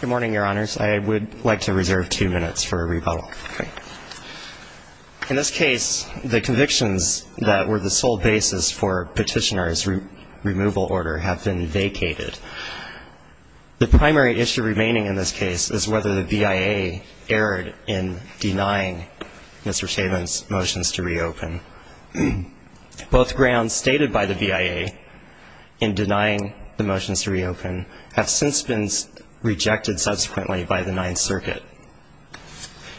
Good morning, Your Honors. I would like to reserve two minutes for a rebuttal. In this case, the convictions that were the sole basis for Petitioner's removal order have been vacated. The primary issue remaining in this case is whether the BIA erred in denying Mr. Chabin's motions to reopen. Both grounds stated by the BIA in denying the motions to reopen have since been rejected subsequently by the Ninth Circuit.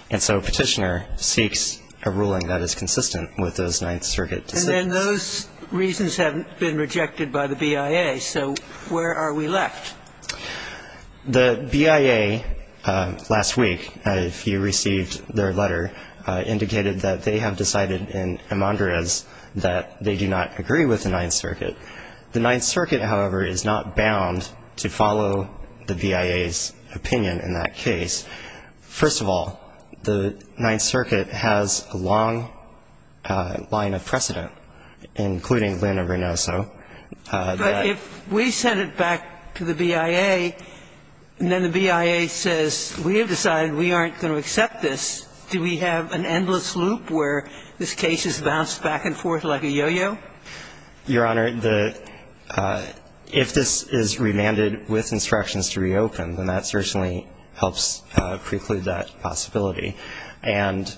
And so Petitioner seeks a ruling that is consistent with those Ninth Circuit decisions. And then those reasons have been rejected by the BIA, so where are we left? The BIA last week, if you received their letter, indicated that they have decided in Emandrez that they do not agree with the Ninth Circuit. The Ninth Circuit, however, is not bound to follow the BIA's opinion in that case. First of all, the Ninth Circuit has a long line of precedent, including Lena Renoso. But if we send it back to the BIA and then the BIA says, we have decided we aren't going to accept this, do we have an endless loop where this case is bounced back and forth like a yo-yo? Your Honor, if this is remanded with instructions to reopen, then that certainly helps preclude that possibility. And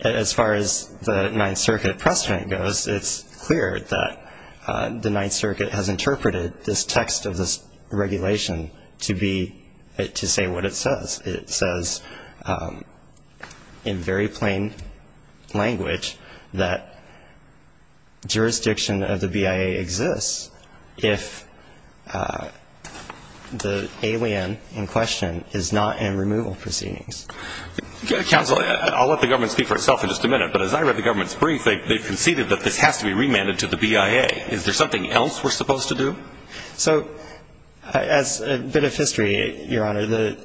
as far as the Ninth Circuit precedent goes, it's clear that the Ninth Circuit has interpreted this text of this regulation to be to say what it says. It says in very plain language that jurisdiction of the BIA exists if the alien in question is not in removal proceedings. Counsel, I'll let the government speak for itself in just a minute, but as I read the government's brief, they conceded that this has to be remanded to the BIA. Is there something else we're supposed to do? So as a bit of history, Your Honor, the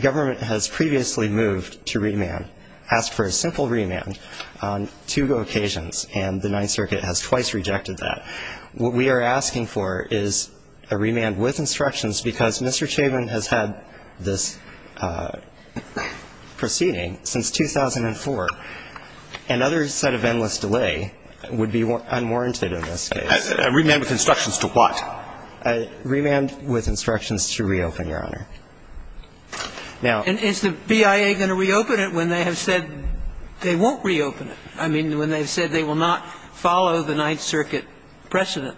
government has previously moved to remand, asked for a simple remand on two occasions, and the Ninth Circuit has twice rejected that. What we are asking for is a remand with instructions because Mr. Chabon has had this proceeding since 2004. Another set of endless delay would be unwarranted in this case. A remand with instructions to what? A remand with instructions to reopen, Your Honor. Now – And is the BIA going to reopen it when they have said they won't reopen it? I mean, when they've said they will not follow the Ninth Circuit precedent.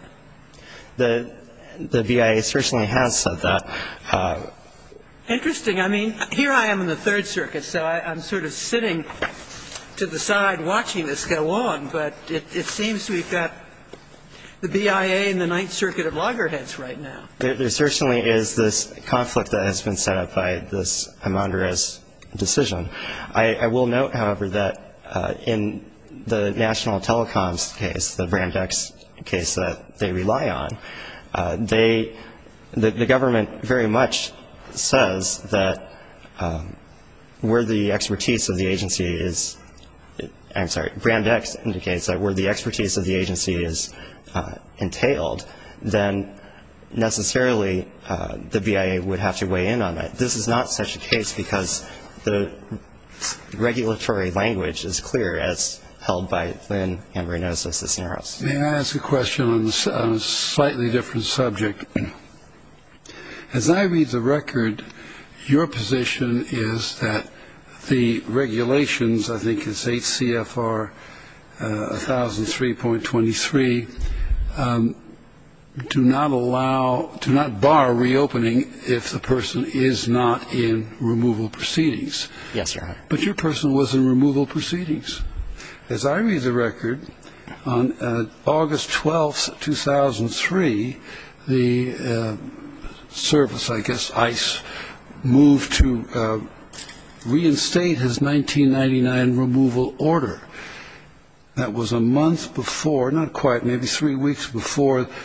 The BIA certainly has said that. Interesting. I mean, here I am in the Third Circuit, so I'm sort of sitting to the side watching this go on, but it seems we've got the BIA and the Ninth Circuit at loggerheads right now. There certainly is this conflict that has been set up by this Emmandrez decision. I will note, however, that in the National Telecoms case, the Brand X case that they rely on, the government very much says that where the expertise of the agency is – I'm sorry, Brand X indicates that where the expertise of the agency is entailed, then necessarily the BIA would have to weigh in on that. This is not such a case because the regulatory language is clear, as held by then Emmandrez of Cisneros. May I ask a question on a slightly different subject? As I read the record, your position is that the regulations, I think it's 8 CFR 1003.23, do not allow – do not bar reopening if the person is not in removal proceedings. Yes, Your Honor. But your person was in removal proceedings. As I read the record, on August 12, 2003, the service, I guess, ICE, moved to reinstate his 1999 removal order. That was a month before – not quite, maybe three weeks before –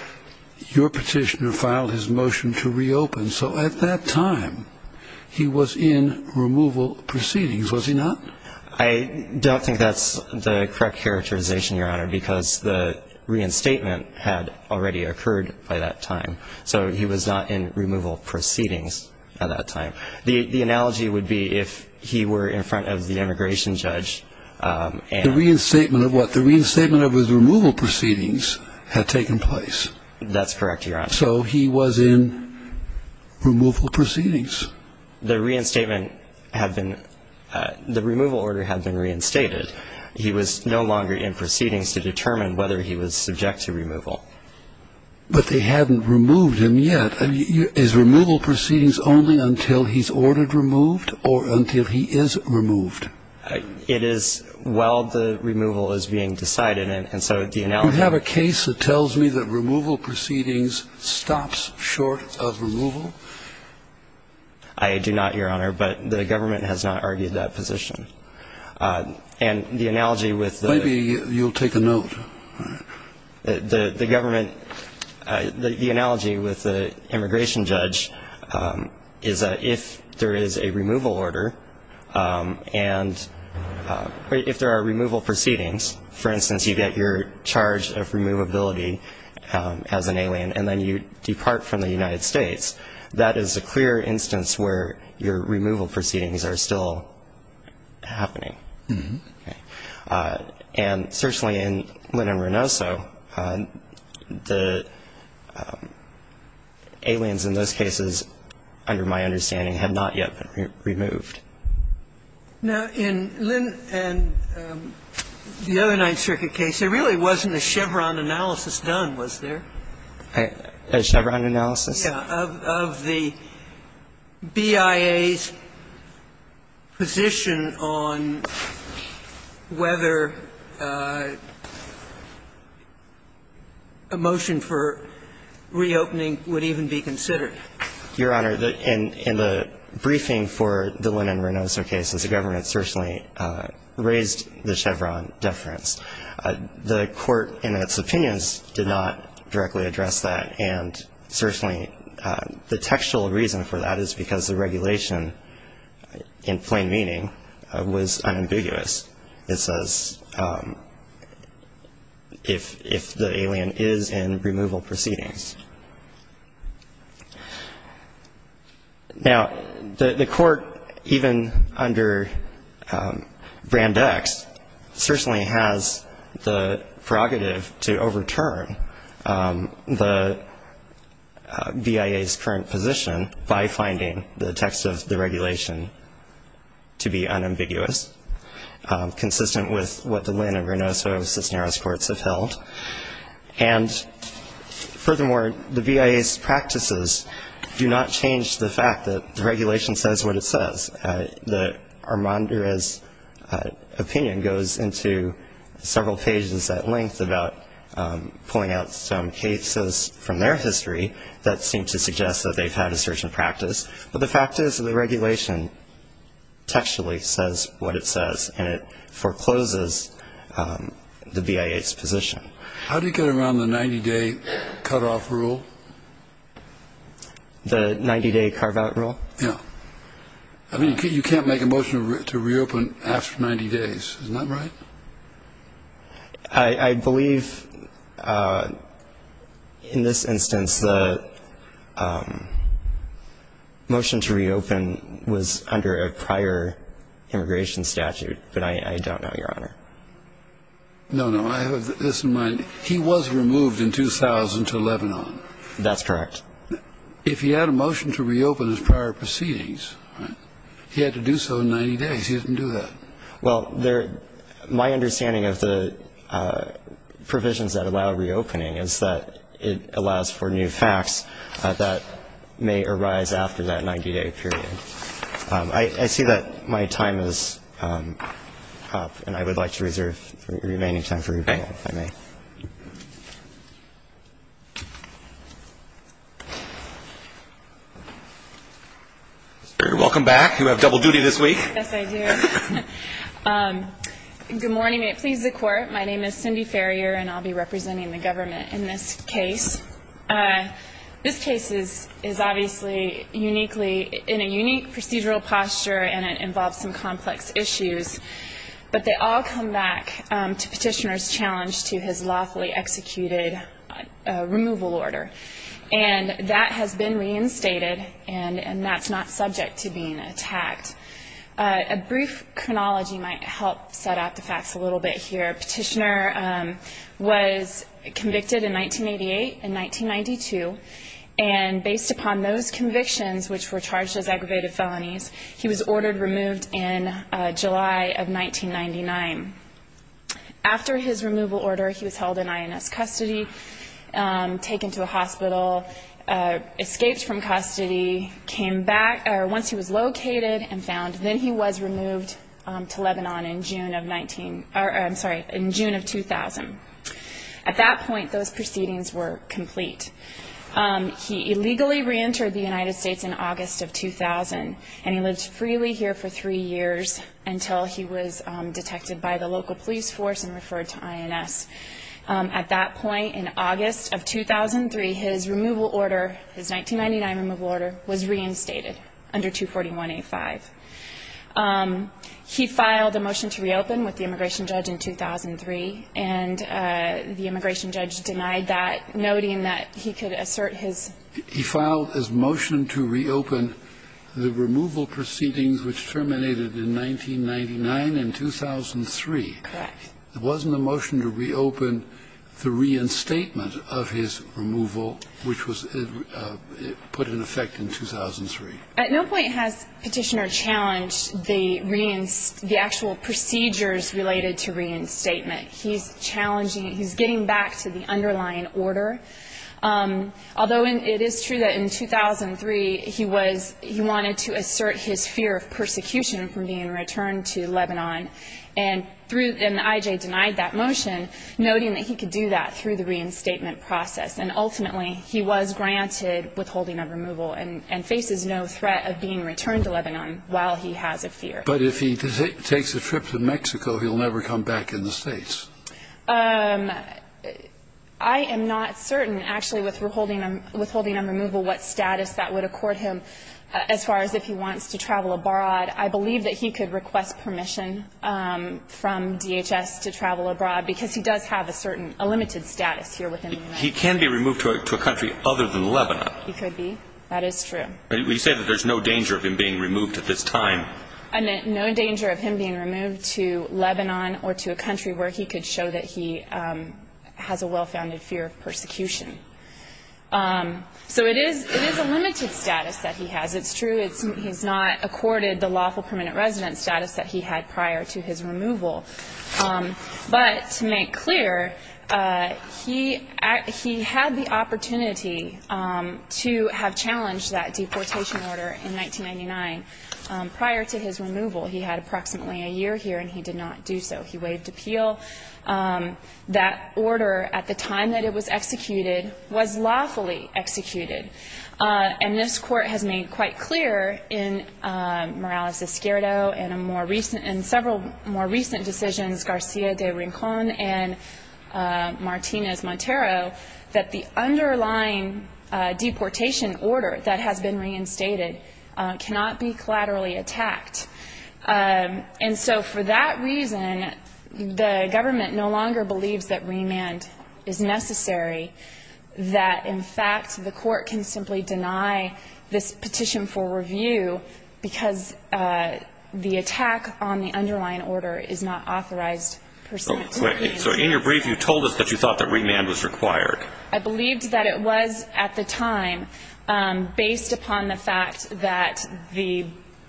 your petitioner filed his motion to reopen. So at that time, he was in removal proceedings, was he not? I don't think that's the correct characterization, Your Honor, because the reinstatement had already occurred by that time. So he was not in removal proceedings at that time. The analogy would be if he were in front of the immigration judge and – The reinstatement of what? The reinstatement of his removal proceedings had taken place. That's correct, Your Honor. So he was in removal proceedings. The reinstatement had been – the removal order had been reinstated. He was no longer in proceedings to determine whether he was subject to removal. But they hadn't removed him yet. Is removal proceedings only until he's ordered removed or until he is removed? It is while the removal is being decided, and so the analogy – Do you have a case that tells me that removal proceedings stops short of removal? I do not, Your Honor, but the government has not argued that position. And the analogy with the – Maybe you'll take a note. The government – the analogy with the immigration judge is that if there is a removal order and if there are removal proceedings, for instance, you get your charge of removability as an alien and then you depart from the United States, that is a clear instance where your removal proceedings are still happening. And certainly in Lynn and Renoso, the aliens in those cases, under my understanding, have not yet been removed. Now, in Lynn and the other Ninth Circuit case, there really wasn't a Chevron analysis done, was there? A Chevron analysis? Yeah. Of the BIA's position on whether a motion for reopening would even be considered. Your Honor, in the briefing for the Lynn and Renoso case, the government certainly raised the Chevron deference. The court, in its opinions, did not directly address that. And certainly the textual reason for that is because the regulation, in plain meaning, was unambiguous. It says if the alien is in removal proceedings. Now, the court, even under Brand X, certainly has the prerogative to overturn the BIA's current position by finding the text of the regulation to be unambiguous, consistent with what the Lynn and Renoso Cisneros courts have held. And furthermore, the BIA's practices do not change the fact that the regulation says what it says. Armandura's opinion goes into several pages at length about pulling out some cases from their history that seem to suggest that they've had a certain practice. But the fact is that the regulation textually says what it says, and it forecloses the BIA's position. How do you get around the 90-day cutoff rule? The 90-day carve-out rule? Yeah. I mean, you can't make a motion to reopen after 90 days. Isn't that right? I believe in this instance the motion to reopen was under a prior immigration statute, but I don't know, Your Honor. No, no. I have this in mind. He was removed in 2000 to Lebanon. That's correct. If he had a motion to reopen his prior proceedings, he had to do so in 90 days. He didn't do that. Well, my understanding of the provisions that allow reopening is that it allows for new facts that may arise after that 90-day period. I see that my time is up, and I would like to reserve the remaining time for rebuttal, if I may. Okay. Welcome back. You have double duty this week. Yes, I do. Good morning. It pleases the Court. My name is Cindy Ferrier, and I'll be representing the government in this case. This case is obviously uniquely in a unique procedural posture, and it involves some complex issues, but they all come back to Petitioner's challenge to his lawfully executed removal order, and that has been reinstated, and that's not subject to being attacked. A brief chronology might help set out the facts a little bit here. Petitioner was convicted in 1988 and 1992, and based upon those convictions, which were charged as aggravated felonies, he was ordered removed in July of 1999. After his removal order, he was held in INS custody, taken to a hospital, escaped from custody, came back once he was located and found. Then he was removed to Lebanon in June of 19 or, I'm sorry, in June of 2000. At that point, those proceedings were complete. He illegally reentered the United States in August of 2000, and he lived freely here for three years until he was detected by the local police force and referred to INS. At that point, in August of 2003, his removal order, his 1999 removal order, was reinstated under 241A5. He filed a motion to reopen with the immigration judge in 2003, and the immigration judge denied that, noting that he could assert his. He filed his motion to reopen the removal proceedings, which terminated in 1999 and 2003. Correct. It wasn't a motion to reopen the reinstatement of his removal, which was put in effect in 2003. At no point has Petitioner challenged the actual procedures related to reinstatement. He's challenging. He's getting back to the underlying order. Although it is true that in 2003, he was he wanted to assert his fear of persecution from being returned to Lebanon, and through and I.J. denied that motion, noting that he could do that through the reinstatement process. And ultimately, he was granted withholding of removal and faces no threat of being returned to Lebanon while he has a fear. But if he takes a trip to Mexico, he'll never come back in the States. I am not certain, actually, with withholding of removal, what status that would accord him as far as if he wants to travel abroad. I believe that he could request permission from DHS to travel abroad because he does have a certain, a limited status here within the United States. He can be removed to a country other than Lebanon. He could be. That is true. But you say that there's no danger of him being removed at this time. No danger of him being removed to Lebanon or to a country where he could show that he has a well-founded fear of persecution. So it is a limited status that he has. It's true he's not accorded the lawful permanent residence status that he had prior to his removal. But to make clear, he had the opportunity to have challenged that deportation order in 1999 prior to his removal. He had approximately a year here, and he did not do so. He waived appeal. That order, at the time that it was executed, was lawfully executed. And this Court has made quite clear in Morales-Escuero and a more recent, in several more recent decisions, Garcia de Rincon and Martinez-Montero, that the underlying deportation order that has been reinstated cannot be collaterally attacked. And so for that reason, the government no longer believes that remand is necessary, that, in fact, the Court can simply deny this petition for review because the attack on the underlying order is not authorized per se. So in your brief, you told us that you thought that remand was required. I believed that it was, at the time, based upon the fact that the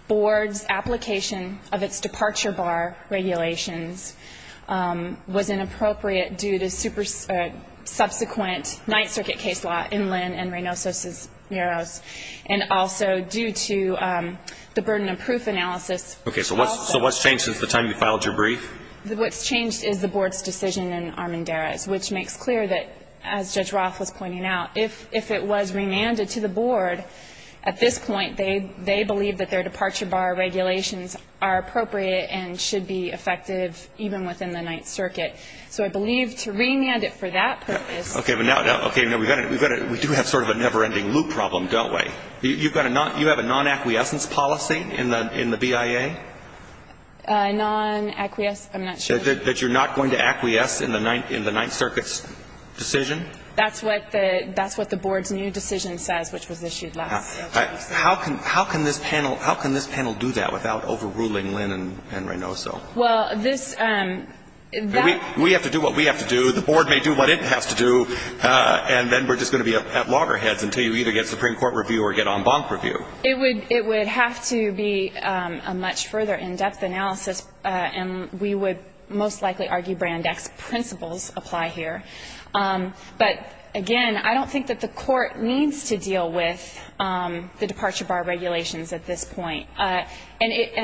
Board's application of its departure bar regulations was inappropriate due to subsequent Ninth Circuit case law in Lynn and Reynoso's murals, and also due to the burden of proof analysis. Okay. So what's changed since the time you filed your brief? What's changed is the Board's decision in Armendariz, which makes clear that, as Judge Roth was pointing out, if it was remanded to the Board at this point, they believe that their departure bar regulations are appropriate and should be effective even within the Ninth Circuit. So I believe to remand it for that purpose ---- Okay. Now, we do have sort of a never-ending loop problem, don't we? You have a non-acquiescence policy in the BIA? Non-acquiescence? I'm not sure. That you're not going to acquiesce in the Ninth Circuit's decision? That's what the Board's new decision says, which was issued last year. How can this panel do that without overruling Lynn and Reynoso? Well, this ---- We have to do what we have to do. The Board may do what it has to do, and then we're just going to be up at loggerheads until you either get Supreme Court review or get en banc review. It would have to be a much further in-depth analysis, and we would most likely argue Brand X principles apply here. But, again, I don't think that the Court needs to deal with the departure bar regulations at this point. And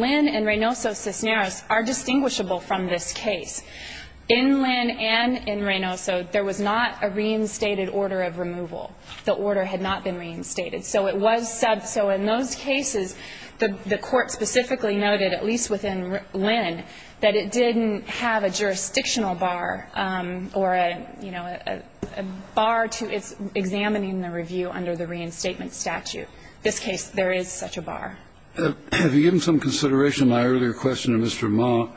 Lynn and Reynoso Cisneros are distinguishable from this case. In Lynn and in Reynoso, there was not a reinstated order of removal. The order had not been reinstated. So it was said. So in those cases, the Court specifically noted, at least within Lynn, that it didn't have a jurisdictional bar or a, you know, a bar to its examining the review under the reinstatement statute. This case, there is such a bar. Have you given some consideration to my earlier question to Mr. Ma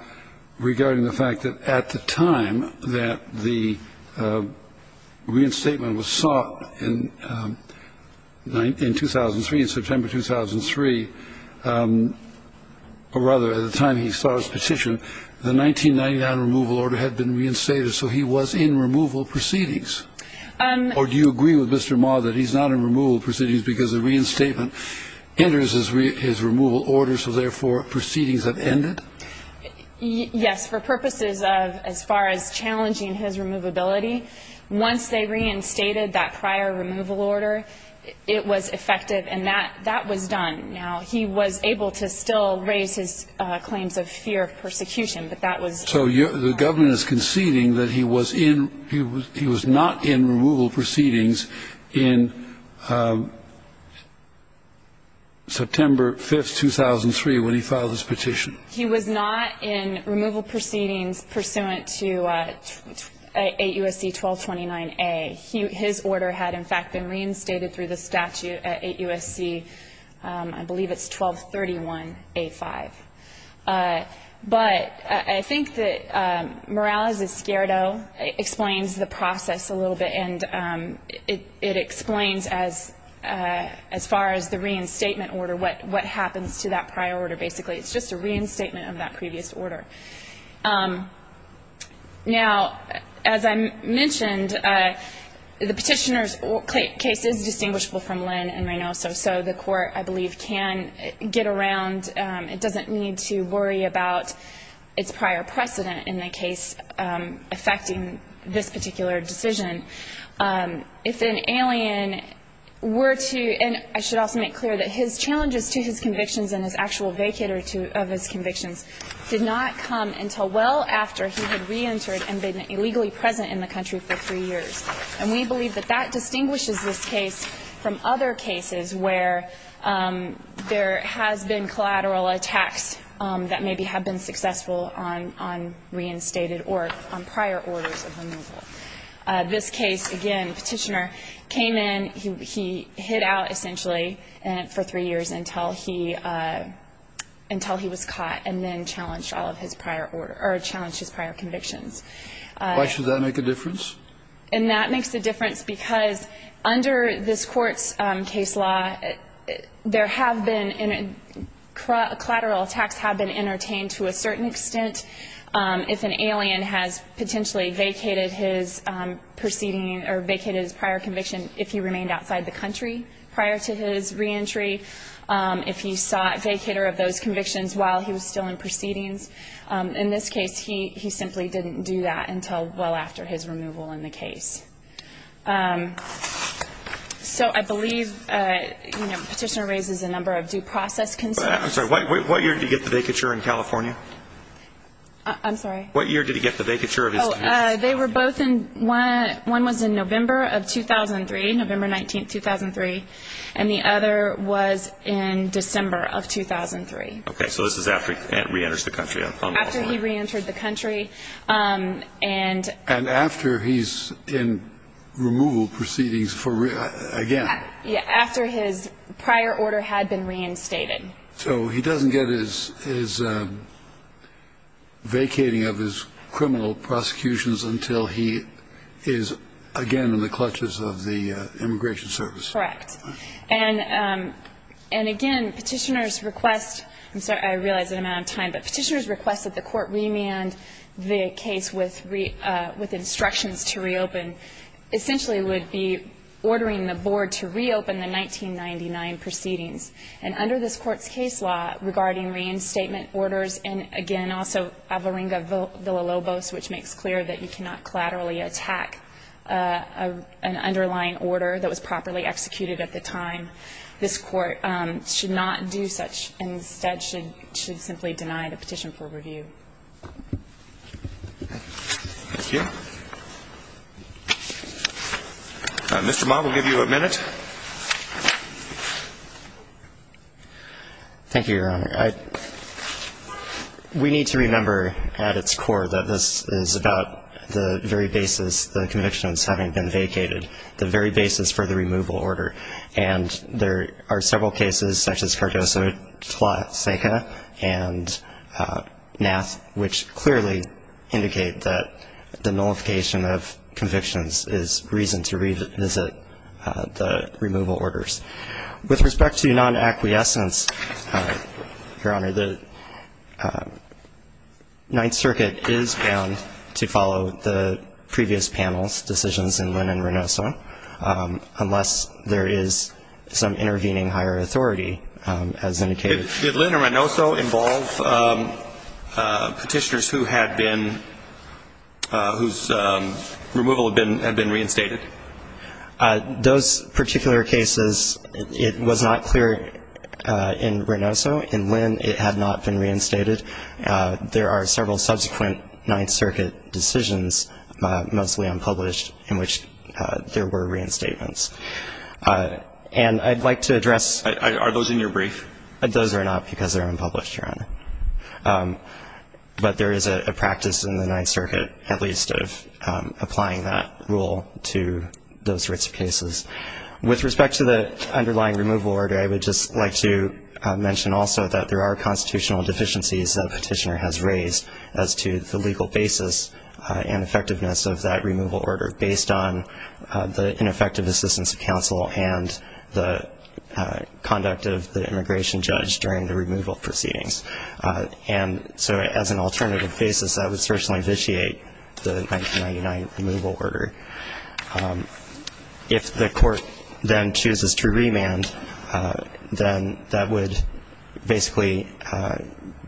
regarding the fact that at the time that the reinstatement was sought in 2003, in September 2003, or rather at the time he saw his petition, the 1999 removal order had been reinstated, so he was in removal proceedings? Or do you agree with Mr. Ma that he's not in removal proceedings because the reinstatement enters his removal order, so therefore proceedings have ended? Yes. For purposes of as far as challenging his removability, once they reinstated that prior removal order, it was effective, and that was done. Now, he was able to still raise his claims of fear of persecution, but that was So the government is conceding that he was in he was not in removal proceedings in September 5th, 2003, when he filed his petition? He was not in removal proceedings pursuant to 8 U.S.C. 1229A. His order had, in fact, been reinstated through the statute at 8 U.S.C., I believe it's 1231A5. But I think that Morales Esquerdo explains the process a little bit, and it explains as far as the reinstatement order, what happens to that prior order, basically. It's just a reinstatement of that previous order. Now, as I mentioned, the Petitioner's case is distinguishable from Lynn and Reynoso, so the Court, I believe, can get around. It doesn't need to worry about its prior precedent in the case affecting this particular decision. If an alien were to — and I should also make clear that his challenges to his convictions and his actual vacate of his convictions did not come until well after he had reentered and been illegally present in the country for three years. And we believe that that distinguishes this case from other cases where there has been collateral attacks that maybe have been successful on reinstated or on prior orders of removal. This case, again, Petitioner came in, he hid out, essentially, for three years until he — until he was caught and then challenged all of his prior — or challenged his prior convictions. Why should that make a difference? And that makes a difference because under this Court's case law, there have been — collateral attacks have been entertained to a certain extent. If an alien has potentially vacated his proceeding or vacated his prior conviction if he remained outside the country prior to his reentry, if he sought vacator of those convictions while he was still in proceedings, in this case, he simply didn't do that until well after his removal in the case. So I believe, you know, Petitioner raises a number of due process concerns. I'm sorry. What year did he get the vacature in California? I'm sorry? What year did he get the vacature of his convictions? They were both in — one was in November of 2003, November 19th, 2003, and the other was in December of 2003. Okay. So this is after he reenters the country. After he reentered the country and — And after he's in removal proceedings for — again. Yeah, after his prior order had been reinstated. So he doesn't get his vacating of his criminal prosecutions until he is, again, in the clutches of the Immigration Service. Correct. And again, Petitioner's request — I'm sorry. I realize the amount of time. But Petitioner's request that the Court remand the case with instructions to reopen essentially would be ordering the Board to reopen the 1999 proceedings. And under this Court's case law, regarding reinstatement orders and, again, also avaringa villalobos, which makes clear that you cannot collaterally attack an underlying order that was properly executed at the time, this Court should not do such. Instead, should simply deny the petition for review. Thank you. Mr. Ma, we'll give you a minute. Thank you, Your Honor. We need to remember at its core that this is about the very basis, the convictions having been vacated, the very basis for the removal order. And there are several cases, such as Cardoso-Tlaiseca and Nass, which clearly indicate that the nullification of convictions is reason to revisit the removal orders. With respect to non-acquiescence, Your Honor, the Ninth Circuit is bound to follow the previous panel's decisions in Linn and Ranoso, unless there is some intervening higher authority, as indicated. Did Linn and Ranoso involve petitioners whose removal had been reinstated? Those particular cases, it was not clear in Ranoso in Linn it had not been reinstated. There are several subsequent Ninth Circuit decisions, mostly unpublished, in which there were reinstatements. And I'd like to address those. Are those in your brief? But there is a practice in the Ninth Circuit, at least, of applying that rule to those sorts of cases. With respect to the underlying removal order, I would just like to mention also that there are constitutional deficiencies that a petitioner has raised as to the legal basis and effectiveness of that removal order, based on the ineffective assistance of counsel and the conduct of the immigration judge during the removal proceedings. And so as an alternative basis, I would certainly vitiate the 1999 removal order. If the court then chooses to remand, then that would basically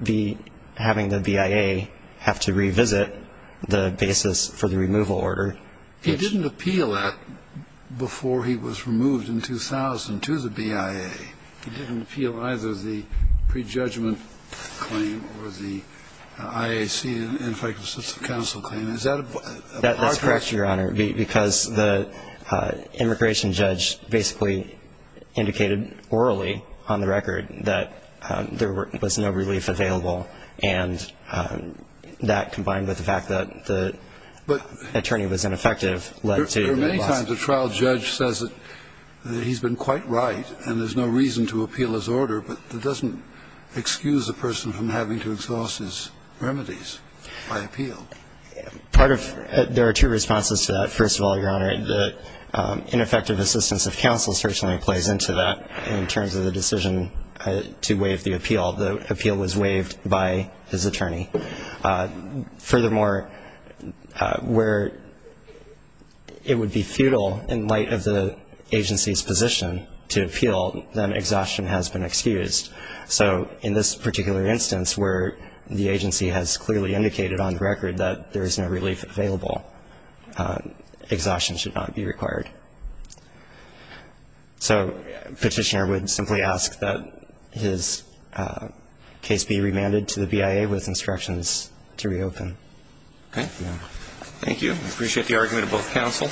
be having the BIA have to revisit the basis for the removal order. He didn't appeal that before he was removed in 2000 to the BIA. He didn't appeal either the prejudgment claim or the IAC and ineffective assistance of counsel claim. Is that a part of that? That's correct, Your Honor, because the immigration judge basically indicated orally on the record that there was no relief available, and that combined with the fact that the attorney was ineffective led to the loss. There are many times a trial judge says that he's been quite right and there's no reason to appeal his order, but that doesn't excuse a person from having to exhaust his remedies by appeal. Part of there are two responses to that. First of all, Your Honor, the ineffective assistance of counsel certainly plays into that in terms of the decision to waive the appeal. The appeal was waived by his attorney. Furthermore, where it would be futile in light of the agency's position to appeal, then exhaustion has been excused. So in this particular instance where the agency has clearly indicated on the record that there is no relief available, exhaustion should not be required. So the petitioner would simply ask that his case be remanded to the BIA with instructions to reopen. Okay. Thank you. I appreciate the argument of both counsel.